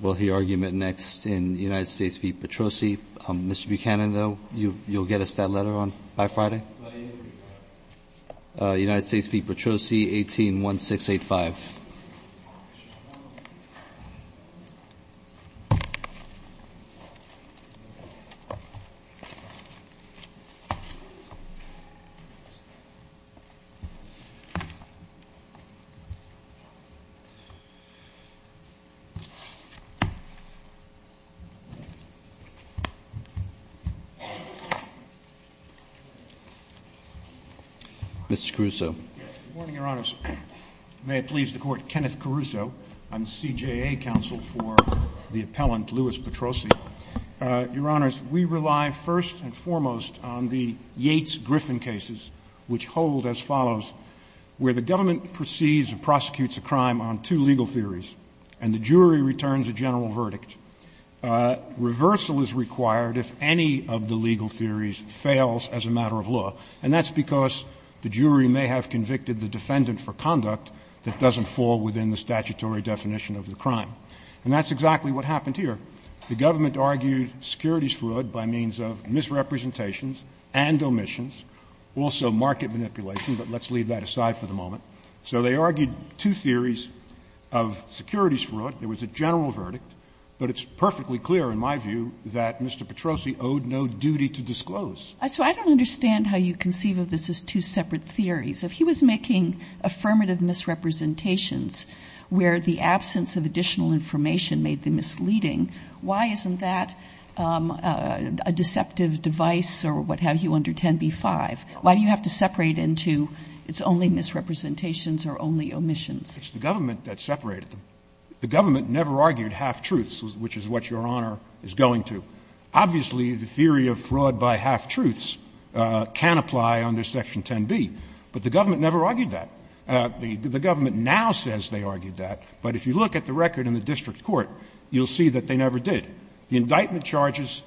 We'll hear argument next in United States v. Petrosi. Mr. Buchanan, though, you'll get us that letter by Friday? United States v. Petrosi, 181685. Good morning, Your Honors. May it please the Court. Kenneth Caruso. I'm CJA counsel for the appellant, Louis Petrosi. Your Honors, we rely first and foremost on the Yates-Griffin cases, which hold as follows. Where the government proceeds or prosecutes a crime on two legal theories and the jury returns a general verdict, reversal is required if any of the legal theories fails as a matter of law, and that's because the jury may have convicted the defendant for conduct that doesn't fall within the statutory definition of the crime. And that's exactly what happened here. The government argued securities fraud by means of misrepresentations and omissions, also market manipulation. But let's leave that aside for the moment. So they argued two theories of securities fraud. There was a general verdict. But it's perfectly clear, in my view, that Mr. Petrosi owed no duty to disclose. So I don't understand how you conceive of this as two separate theories. If he was making affirmative misrepresentations where the absence of additional information made them misleading, why isn't that a deceptive device or what have you under 10b-5? Why do you have to separate into it's only misrepresentations or only omissions? It's the government that separated them. The government never argued half-truths, which is what Your Honor is going to. Obviously, the theory of fraud by half-truths can apply under Section 10b, but the government never argued that. The government now says they argued that, but if you look at the record in the district court, you'll see that they never did. The indictment charges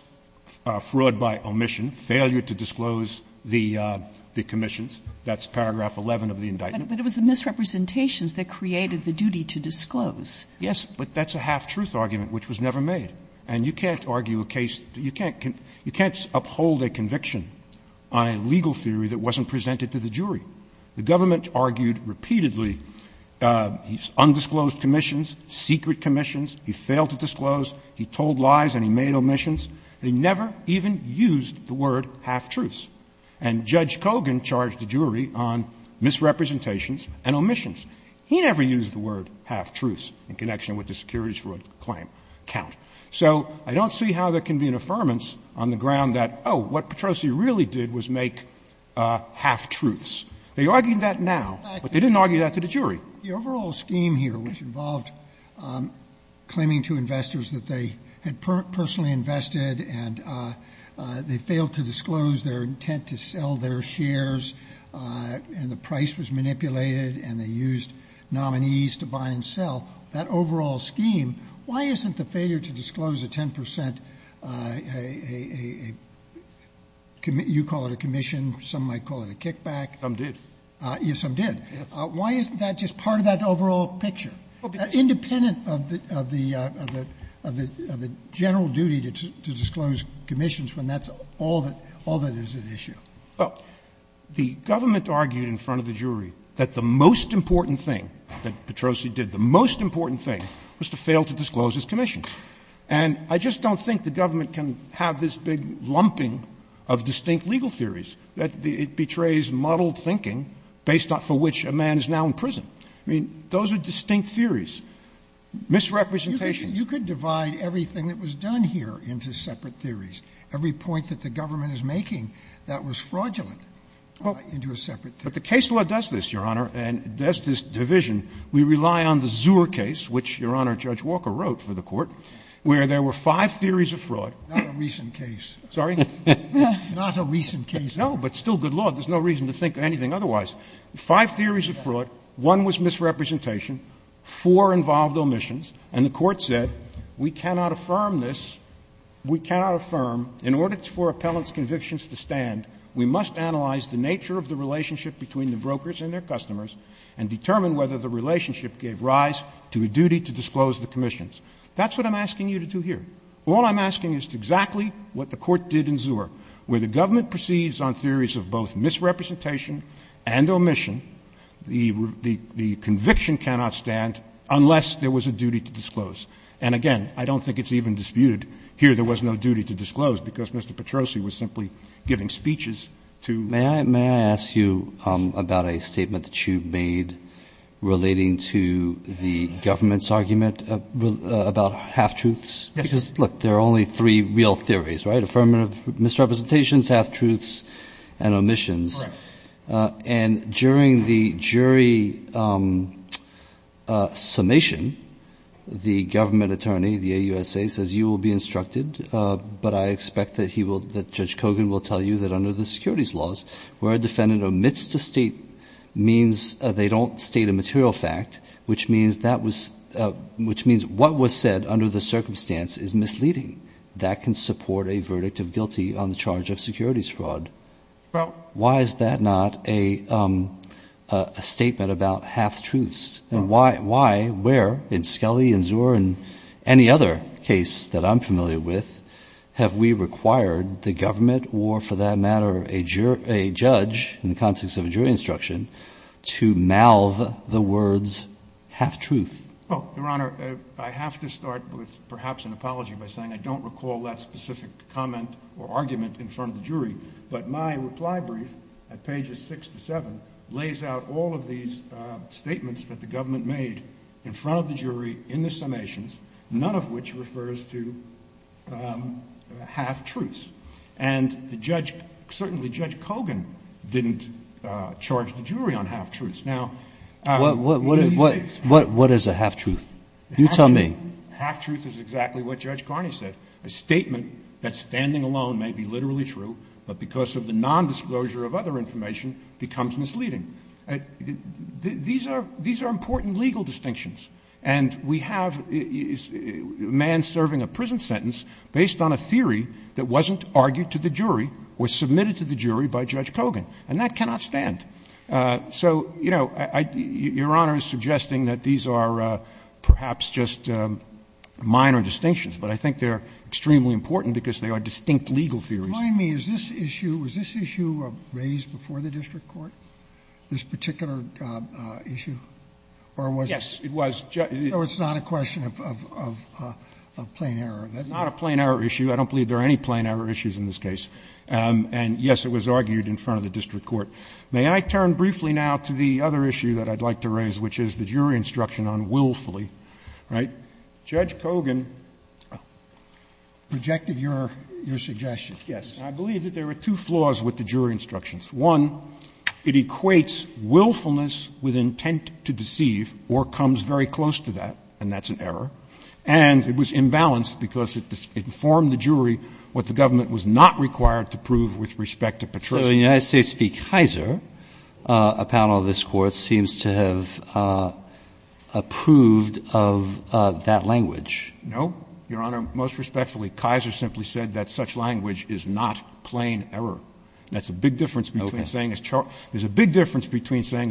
fraud by omission, failure to disclose the commissions. That's paragraph 11 of the indictment. But it was the misrepresentations that created the duty to disclose. Yes, but that's a half-truth argument, which was never made. And you can't argue a case that you can't uphold a conviction on a legal theory that wasn't presented to the jury. The government argued repeatedly undisclosed commissions, secret commissions. He failed to disclose. He told lies and he made omissions. They never even used the word half-truths. And Judge Kogan charged the jury on misrepresentations and omissions. He never used the word half-truths in connection with the securities fraud claim count. So I don't see how there can be an affirmance on the ground that, oh, what Petrosi really did was make half-truths. They argue that now, but they didn't argue that to the jury. The overall scheme here, which involved claiming to investors that they had personally invested and they failed to disclose their intent to sell their shares and the price was manipulated and they used nominees to buy and sell, that overall scheme, why isn't the failure to disclose a 10 percent, you call it a commission, some might call it a kickback. Some did. Yes, some did. Why isn't that just part of that overall picture, independent of the general duty to disclose commissions when that's all that is at issue? Well, the government argued in front of the jury that the most important thing that Petrosi did, the most important thing was to fail to disclose his commission. And I just don't think the government can have this big lumping of distinct legal theories that it betrays modeled thinking based on for which a man is now in prison. I mean, those are distinct theories. Misrepresentations. You could divide everything that was done here into separate theories. Every point that the government is making that was fraudulent into a separate theory. But the case law does this, Your Honor, and does this division. We rely on the Zuhr case, which Your Honor, Judge Walker wrote for the Court, where there were five theories of fraud. Not a recent case. No, but still good law. There's no reason to think anything otherwise. Five theories of fraud. One was misrepresentation. Four involved omissions. And the Court said, we cannot affirm this. We cannot affirm. In order for appellant's convictions to stand, we must analyze the nature of the relationship between the brokers and their customers and determine whether the relationship gave rise to a duty to disclose the commissions. That's what I'm asking you to do here. All I'm asking is exactly what the Court did in Zuhr. Where the government proceeds on theories of both misrepresentation and omission, the conviction cannot stand unless there was a duty to disclose. And, again, I don't think it's even disputed here there was no duty to disclose because Mr. Petrosi was simply giving speeches to ---- May I ask you about a statement that you've made relating to the government's argument about half-truths? Yes. Because, look, there are only three real theories, right? Affirmative misrepresentations, half-truths, and omissions. Right. And during the jury summation, the government attorney, the AUSA, says you will be instructed, but I expect that Judge Kogan will tell you that under the securities laws, where a defendant omits to state means they don't state a material fact, which means what was said under the circumstance is misleading. That can support a verdict of guilty on the charge of securities fraud. Why is that not a statement about half-truths? And why, where, in Skelly and Zuhr and any other case that I'm familiar with, have we required the government or, for that matter, a judge, in the context of a jury instruction, to malve the words half-truth? Well, Your Honor, I have to start with perhaps an apology by saying I don't recall that specific comment or argument in front of the jury. But my reply brief at pages 6 to 7 lays out all of these statements that the government made in front of the jury in the summations, none of which refers to half-truths. And the judge, certainly Judge Kogan, didn't charge the jury on half-truths. Now, in these cases ---- What is a half-truth? You tell me. Half-truth is exactly what Judge Carney said, a statement that, standing alone, may be literally true, but because of the nondisclosure of other information, becomes misleading. These are important legal distinctions. And we have a man serving a prison sentence based on a theory that wasn't argued to the jury or submitted to the jury by Judge Kogan. And that cannot stand. So, you know, Your Honor is suggesting that these are perhaps just minor distinctions, but I think they're extremely important because they are distinct legal theories. Remind me, was this issue raised before the district court, this particular issue? Or was it? Yes, it was. So it's not a question of plain error? Not a plain error issue. I don't believe there are any plain error issues in this case. And, yes, it was argued in front of the district court. May I turn briefly now to the other issue that I'd like to raise, which is the jury instruction on willfully, right? Judge Kogan ---- Rejected your suggestion. Yes. I believe that there were two flaws with the jury instructions. One, it equates willfulness with intent to deceive or comes very close to that, and that's an error. And it was imbalanced because it informed the jury what the government was not required to prove with respect to Petrosian. So the United States v. Kaiser, a panel of this Court, seems to have approved of that language. No. Your Honor, most respectfully, Kaiser simply said that such language is not plain error. That's a big difference between saying a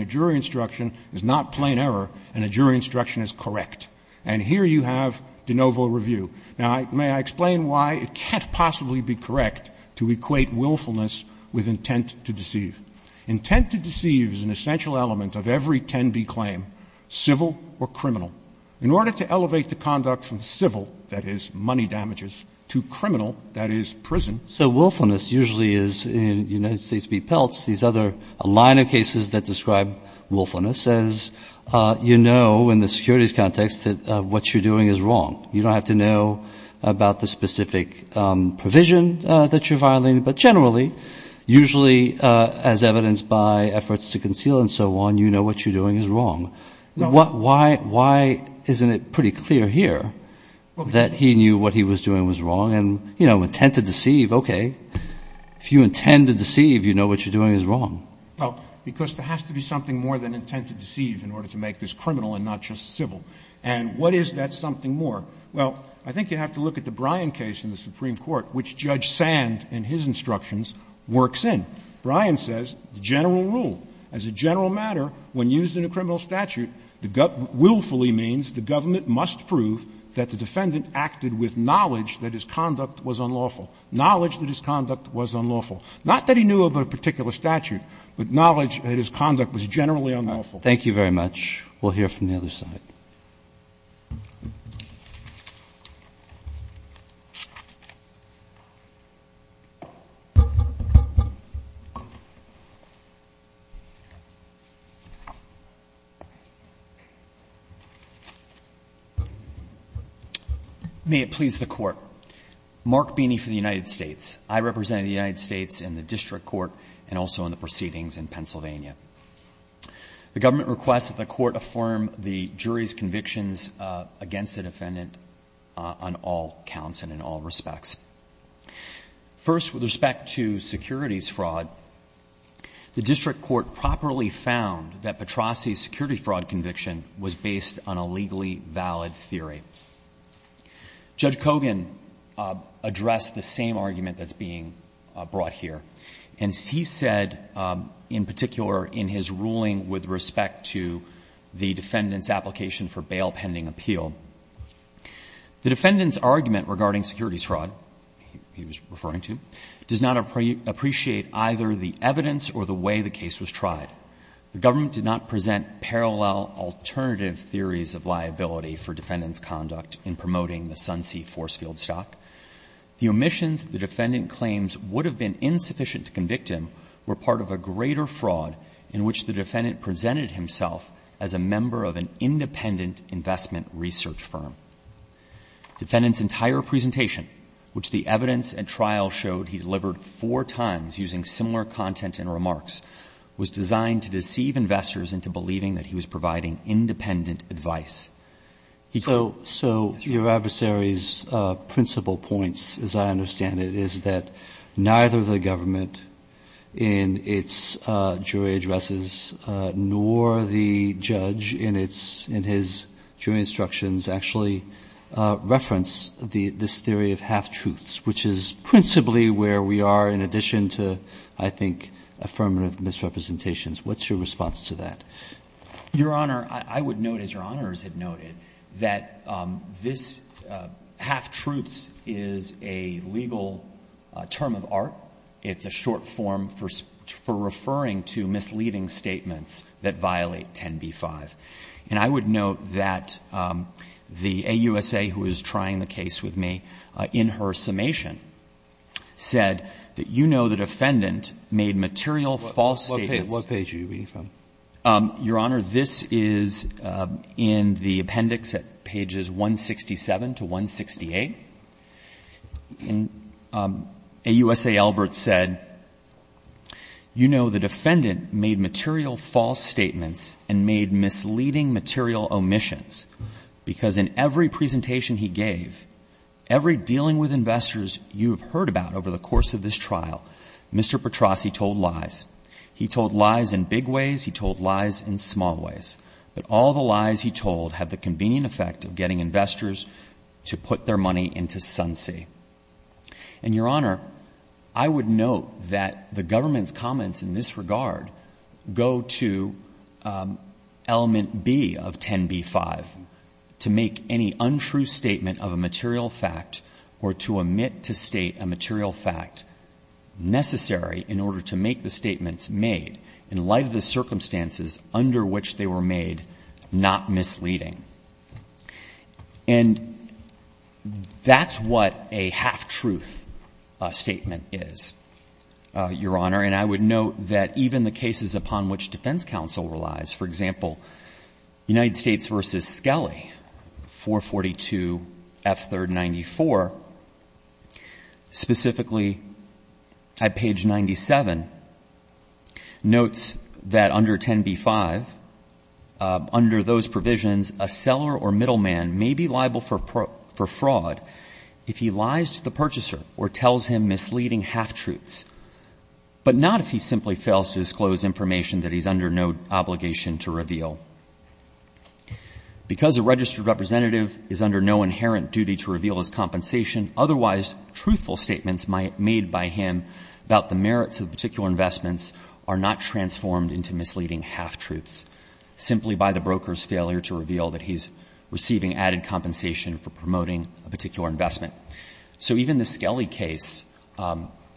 jury instruction is not plain error and a jury instruction is correct. And here you have de novo review. Now, may I explain why it can't possibly be correct to equate willfulness with intent to deceive? Intent to deceive is an essential element of every 10B claim, civil or criminal. In order to elevate the conduct from civil, that is, money damages, to criminal, that is, prison ---- So willfulness usually is, in United States v. Peltz, these other a line of cases that describe willfulness as you know in the securities context that what you're doing is wrong. You don't have to know about the specific provision that you're violating, but generally, usually as evidenced by efforts to conceal and so on, you know what you're doing is wrong. Why isn't it pretty clear here that he knew what he was doing was wrong and, you know, okay, if you intend to deceive, you know what you're doing is wrong? Well, because there has to be something more than intent to deceive in order to make this criminal and not just civil. And what is that something more? Well, I think you have to look at the Bryan case in the Supreme Court, which Judge Sand, in his instructions, works in. Bryan says the general rule, as a general matter, when used in a criminal statute, willfully means the government must prove that the defendant acted with knowledge that his conduct was unlawful. Knowledge that his conduct was unlawful. Not that he knew of a particular statute, but knowledge that his conduct was generally unlawful. Roberts. Thank you very much. We'll hear from the other side. May it please the Court. Mark Beeney for the United States. I represent the United States in the district court and also in the proceedings in Pennsylvania. The government requests that the Court affirm the jury's convictions against the defendant on all counts and in all respects. First, with respect to securities fraud, the district court properly found that Petrosi's security fraud conviction was based on a legally valid theory. Judge Kogan addressed the same argument that's being brought here. And he said, in particular, in his ruling with respect to the defendant's application for bail pending appeal, the defendant's argument regarding securities fraud, he was referring to, does not appreciate either the evidence or the way the case was tried. The government did not present parallel alternative theories of liability for defendant's conduct in promoting the Sunsea force field stock. The omissions the defendant claims would have been insufficient to convict him were part of a greater fraud in which the defendant presented himself as a member of an independent investment research firm. Defendant's entire presentation, which the evidence and trial showed he delivered four times using similar content and remarks, was designed to deceive investors into believing that he was providing independent advice. So your adversary's principal points, as I understand it, is that neither the government in its jury addresses nor the judge in his jury instructions actually reference this theory of half-truths, which is principally where we are in addition to, I think, affirmative misrepresentations. What's your response to that? Your Honor, I would note, as Your Honors have noted, that this half-truths is a legal term of art. It's a short form for referring to misleading statements that violate 10b-5. And I would note that the AUSA, who is trying the case with me, in her summation, said that you know the defendant made material false statements. What page are you reading from? Your Honor, this is in the appendix at pages 167 to 168. AUSA Albert said, you know the defendant made material false statements and made misleading material omissions because in every presentation he gave, every dealing with investors you have heard about over the course of this trial, Mr. Petrosi told lies. He told lies in big ways. He told lies in small ways. But all the lies he told have the convenient effect of getting investors to put their money into Sunsea. And, Your Honor, I would note that the government's comments in this regard go to element B of 10b-5, to make any untrue statement of a material fact or to omit to state a material fact necessary in order to make the statements made in light of the circumstances under which they were made not misleading. And that's what a half-truth statement is, Your Honor. And I would note that even the cases upon which defense counsel relies, for example, United States v. Skelly, 442F3-94, specifically at page 97 notes that under 10b-5, under those provisions a seller or middleman may be liable for fraud if he lies to the purchaser or tells him misleading half-truths, but not if he simply fails to disclose information that he's under no obligation to reveal. Because a registered representative is under no inherent duty to reveal his compensation, otherwise truthful statements made by him about the merits of particular investments are not transformed into misleading half-truths, simply by the broker's failure to reveal that he's receiving added compensation for promoting a particular investment. So even the Skelly case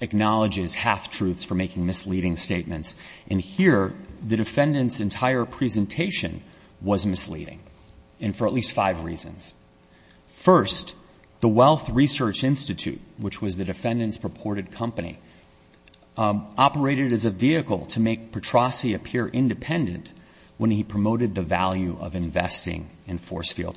acknowledges half-truths for making misleading statements. And here, the defendant's entire presentation was misleading, and for at least five reasons. First, the Wealth Research Institute, which was the defendant's purported company, operated as a vehicle to make Petrosi appear independent when he promoted the value of investing in Forcefield.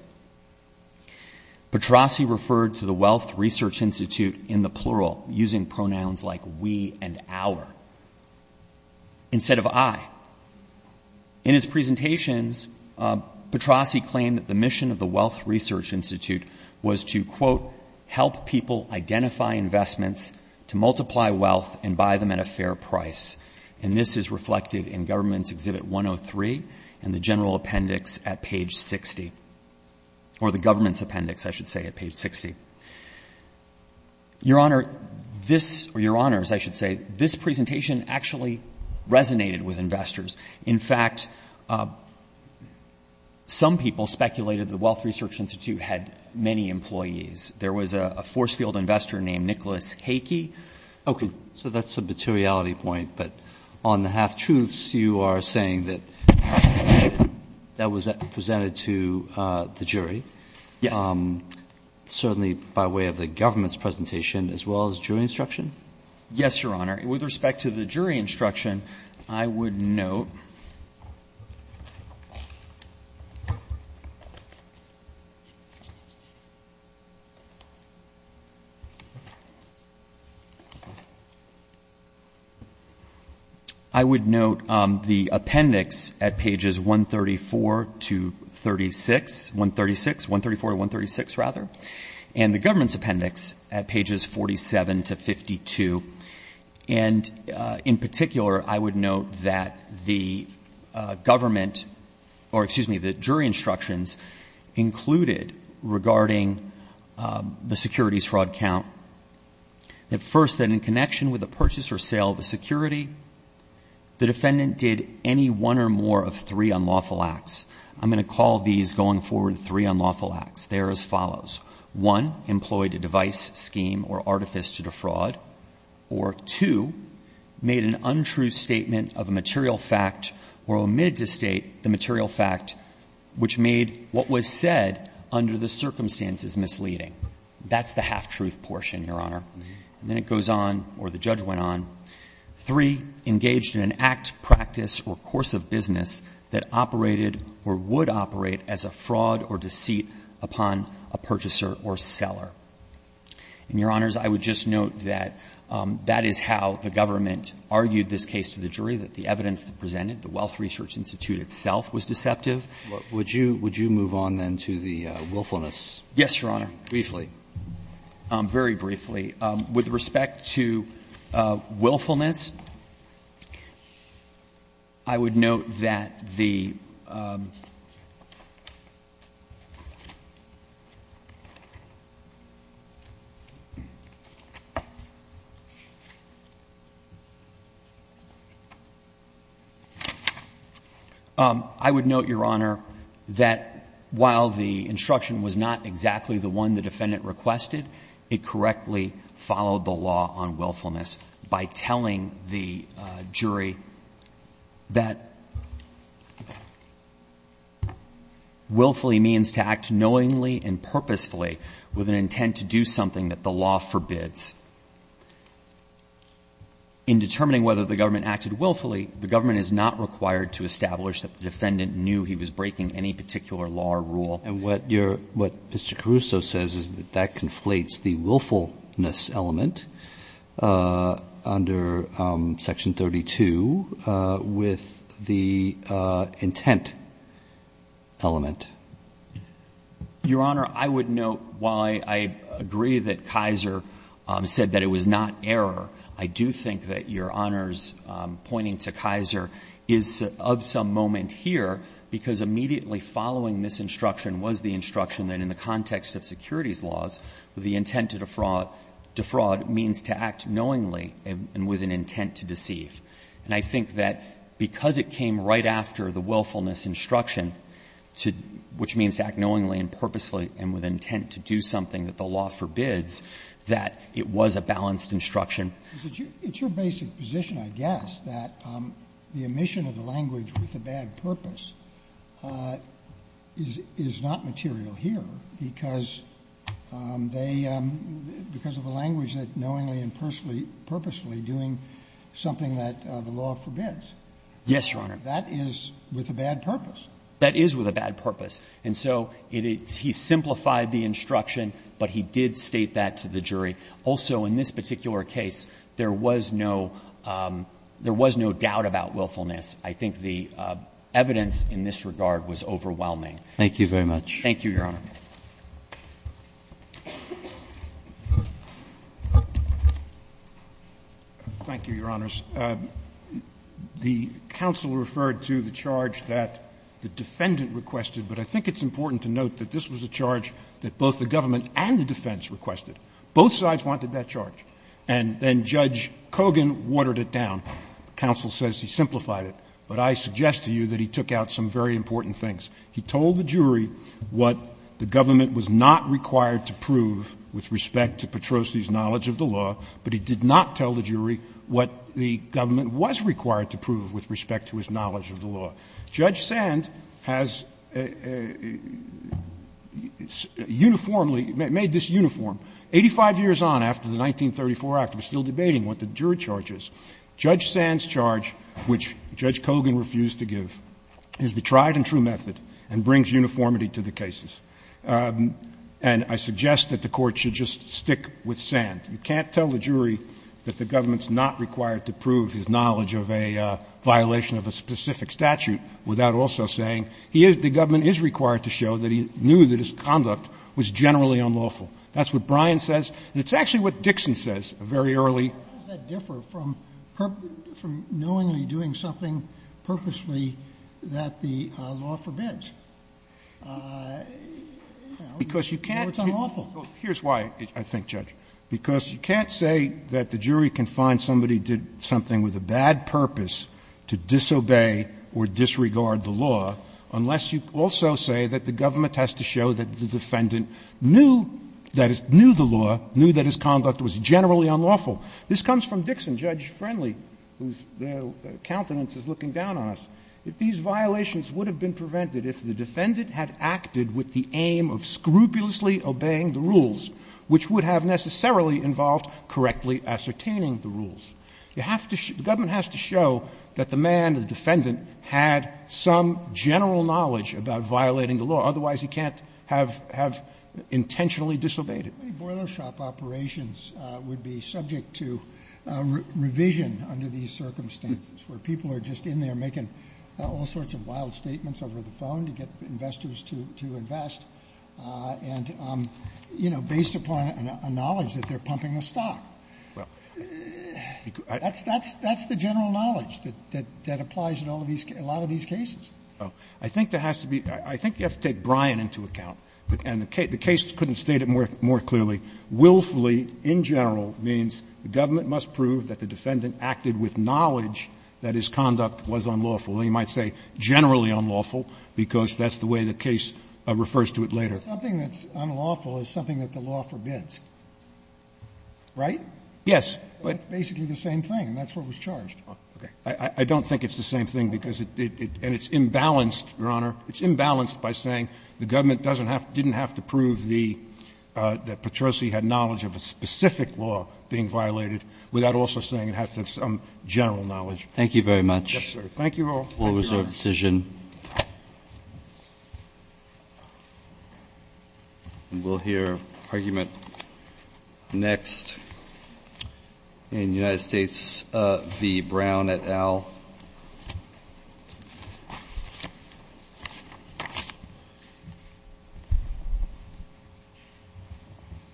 Petrosi referred to the Wealth Research Institute in the plural, using pronouns like we and our, instead of I. In his presentations, Petrosi claimed that the mission of the Wealth Research Institute was to, quote, help people identify investments, to multiply wealth, and buy them at a fair price. And this is reflected in Government's Exhibit 103 and the General Appendix at page 60. Or the Government's Appendix, I should say, at page 60. Your Honor, this, or Your Honors, I should say, this presentation actually resonated with investors. In fact, some people speculated the Wealth Research Institute had many employees. There was a Forcefield investor named Nicholas Hakey. Okay. So that's a materiality point. But on the half-truths, you are saying that that was presented to the jury? Yes. Certainly by way of the Government's presentation as well as jury instruction? Yes, Your Honor. With respect to the jury instruction, I would note the appendix at pages 134 to 36, 136, 134 to 136, rather, and the Government's Appendix at pages 47 to 52. And in particular, I would note that the Government, or excuse me, the jury instructions included, regarding the securities fraud count, that first, that in connection with the purchase or sale of a security, the defendant did any one or more of three unlawful acts. I'm going to call these, going forward, three unlawful acts. They are as follows. One, employed a device, scheme, or artifice to defraud. Or two, made an untrue statement of a material fact or omitted to state the material fact, which made what was said under the circumstances misleading. That's the half-truth portion, Your Honor. And then it goes on, or the judge went on. Three, engaged in an act, practice, or course of business that operated or would operate as a fraud or deceit upon a purchaser or seller. And, Your Honors, I would just note that that is how the Government argued this case to the jury, that the evidence presented, the Wealth Research Institute itself, was deceptive. Would you move on, then, to the willfulness? Yes, Your Honor. Briefly. Very briefly. With respect to willfulness, I would note that the I would note, Your Honor, that while the instruction was not exactly the one the defendant requested, it correctly followed the law on willfulness by telling the jury that willfully means to act knowingly and purposefully with an intent to do something that the law forbids. In determining whether the Government acted willfully, the Government is not required to establish that the defendant knew he was breaking any particular law or rule. And what Mr. Caruso says is that that conflates the willfulness element under Section 32 with the intent element. Your Honor, I would note, while I agree that Kaiser said that it was not error, I do think that Your Honor's pointing to Kaiser is of some moment here, because immediately following this instruction was the instruction that in the context of securities laws, the intent to defraud means to act knowingly and with an intent to deceive. And I think that because it came right after the willfulness instruction, which means to act knowingly and purposefully and with an intent to do something that the law forbids, that it was a balanced instruction. It's your basic position, I guess, that the omission of the language with a bad purpose is not material here, because they — because of the language that knowingly and purposefully doing something that the law forbids. Yes, Your Honor. That is with a bad purpose. That is with a bad purpose. And so he simplified the instruction, but he did state that to the jury. Also, in this particular case, there was no doubt about willfulness. I think the evidence in this regard was overwhelming. Thank you very much. Thank you, Your Honor. Thank you, Your Honors. The counsel referred to the charge that the defendant requested, but I think it's important to note that this was a charge that both the government and the defense requested. Both sides wanted that charge. And then Judge Kogan watered it down. Counsel says he simplified it. But I suggest to you that he took out some very important things. He told the jury what the government was not required to prove with respect to Petrosi's knowledge of the law, but he did not tell the jury what the government was required to prove with respect to his knowledge of the law. Judge Sand has uniformly made this uniform. Eighty-five years on, after the 1934 act, we're still debating what the jury charge is. Judge Sand's charge, which Judge Kogan refused to give, is the tried and true method and brings uniformity to the cases. And I suggest that the Court should just stick with Sand. You can't tell the jury that the government's not required to prove his knowledge of a violation of a specific statute without also saying the government is required to show that he knew that his conduct was generally unlawful. That's what Brian says. And it's actually what Dixon says very early. How does that differ from knowingly doing something purposely that the law forbids? You know, it's unlawful. Here's why, I think, Judge. Because you can't say that the jury can find somebody did something with a bad purpose to disobey or disregard the law unless you also say that the government has to show that the defendant knew that his conduct was generally unlawful. This comes from Dixon, Judge Friendly, whose countenance is looking down on us. These violations would have been prevented if the defendant had acted with the aim of scrupulously obeying the rules, which would have necessarily involved correctly ascertaining the rules. The government has to show that the man, the defendant, had some general knowledge about violating the law. Otherwise, he can't have intentionally disobeyed it. Boilershop operations would be subject to revision under these circumstances where people are just in there making all sorts of wild statements over the phone to get investors to invest and, you know, based upon a knowledge that they're pumping a stock. That's the general knowledge that applies in a lot of these cases. So I think there has to be – I think you have to take Bryan into account. And the case couldn't state it more clearly. Willfully, in general, means the government must prove that the defendant acted with knowledge that his conduct was unlawful. And you might say generally unlawful, because that's the way the case refers to it later. Sotomayor, something that's unlawful is something that the law forbids, right? Yes. So it's basically the same thing, and that's what was charged. I don't think it's the same thing because it – and it's imbalanced, Your Honor. It's imbalanced by saying the government doesn't have – didn't have to prove the – that Petrosi had knowledge of a specific law being violated without also saying it has to have some general knowledge. Thank you very much. Thank you all. Thank you, Your Honor. We'll reserve decision. We'll hear argument next in United States v. Brown et al.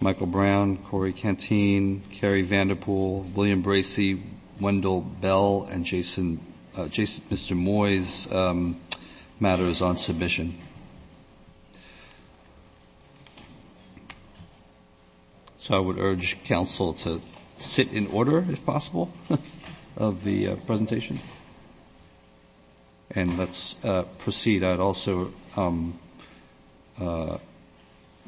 Michael Brown, Corey Canteen, Cary Vanderpool, William Bracey, Wendell Bell, and Jason – Mr. Moyes' matters on submission. So I would urge counsel to sit in order, if possible, of the presentation. And let's proceed. I'd also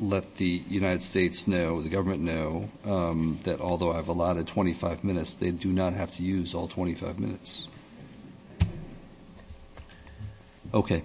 let the United States know, the government know, that although I've allotted 25 minutes, they do not have to use all 25 minutes. Okay.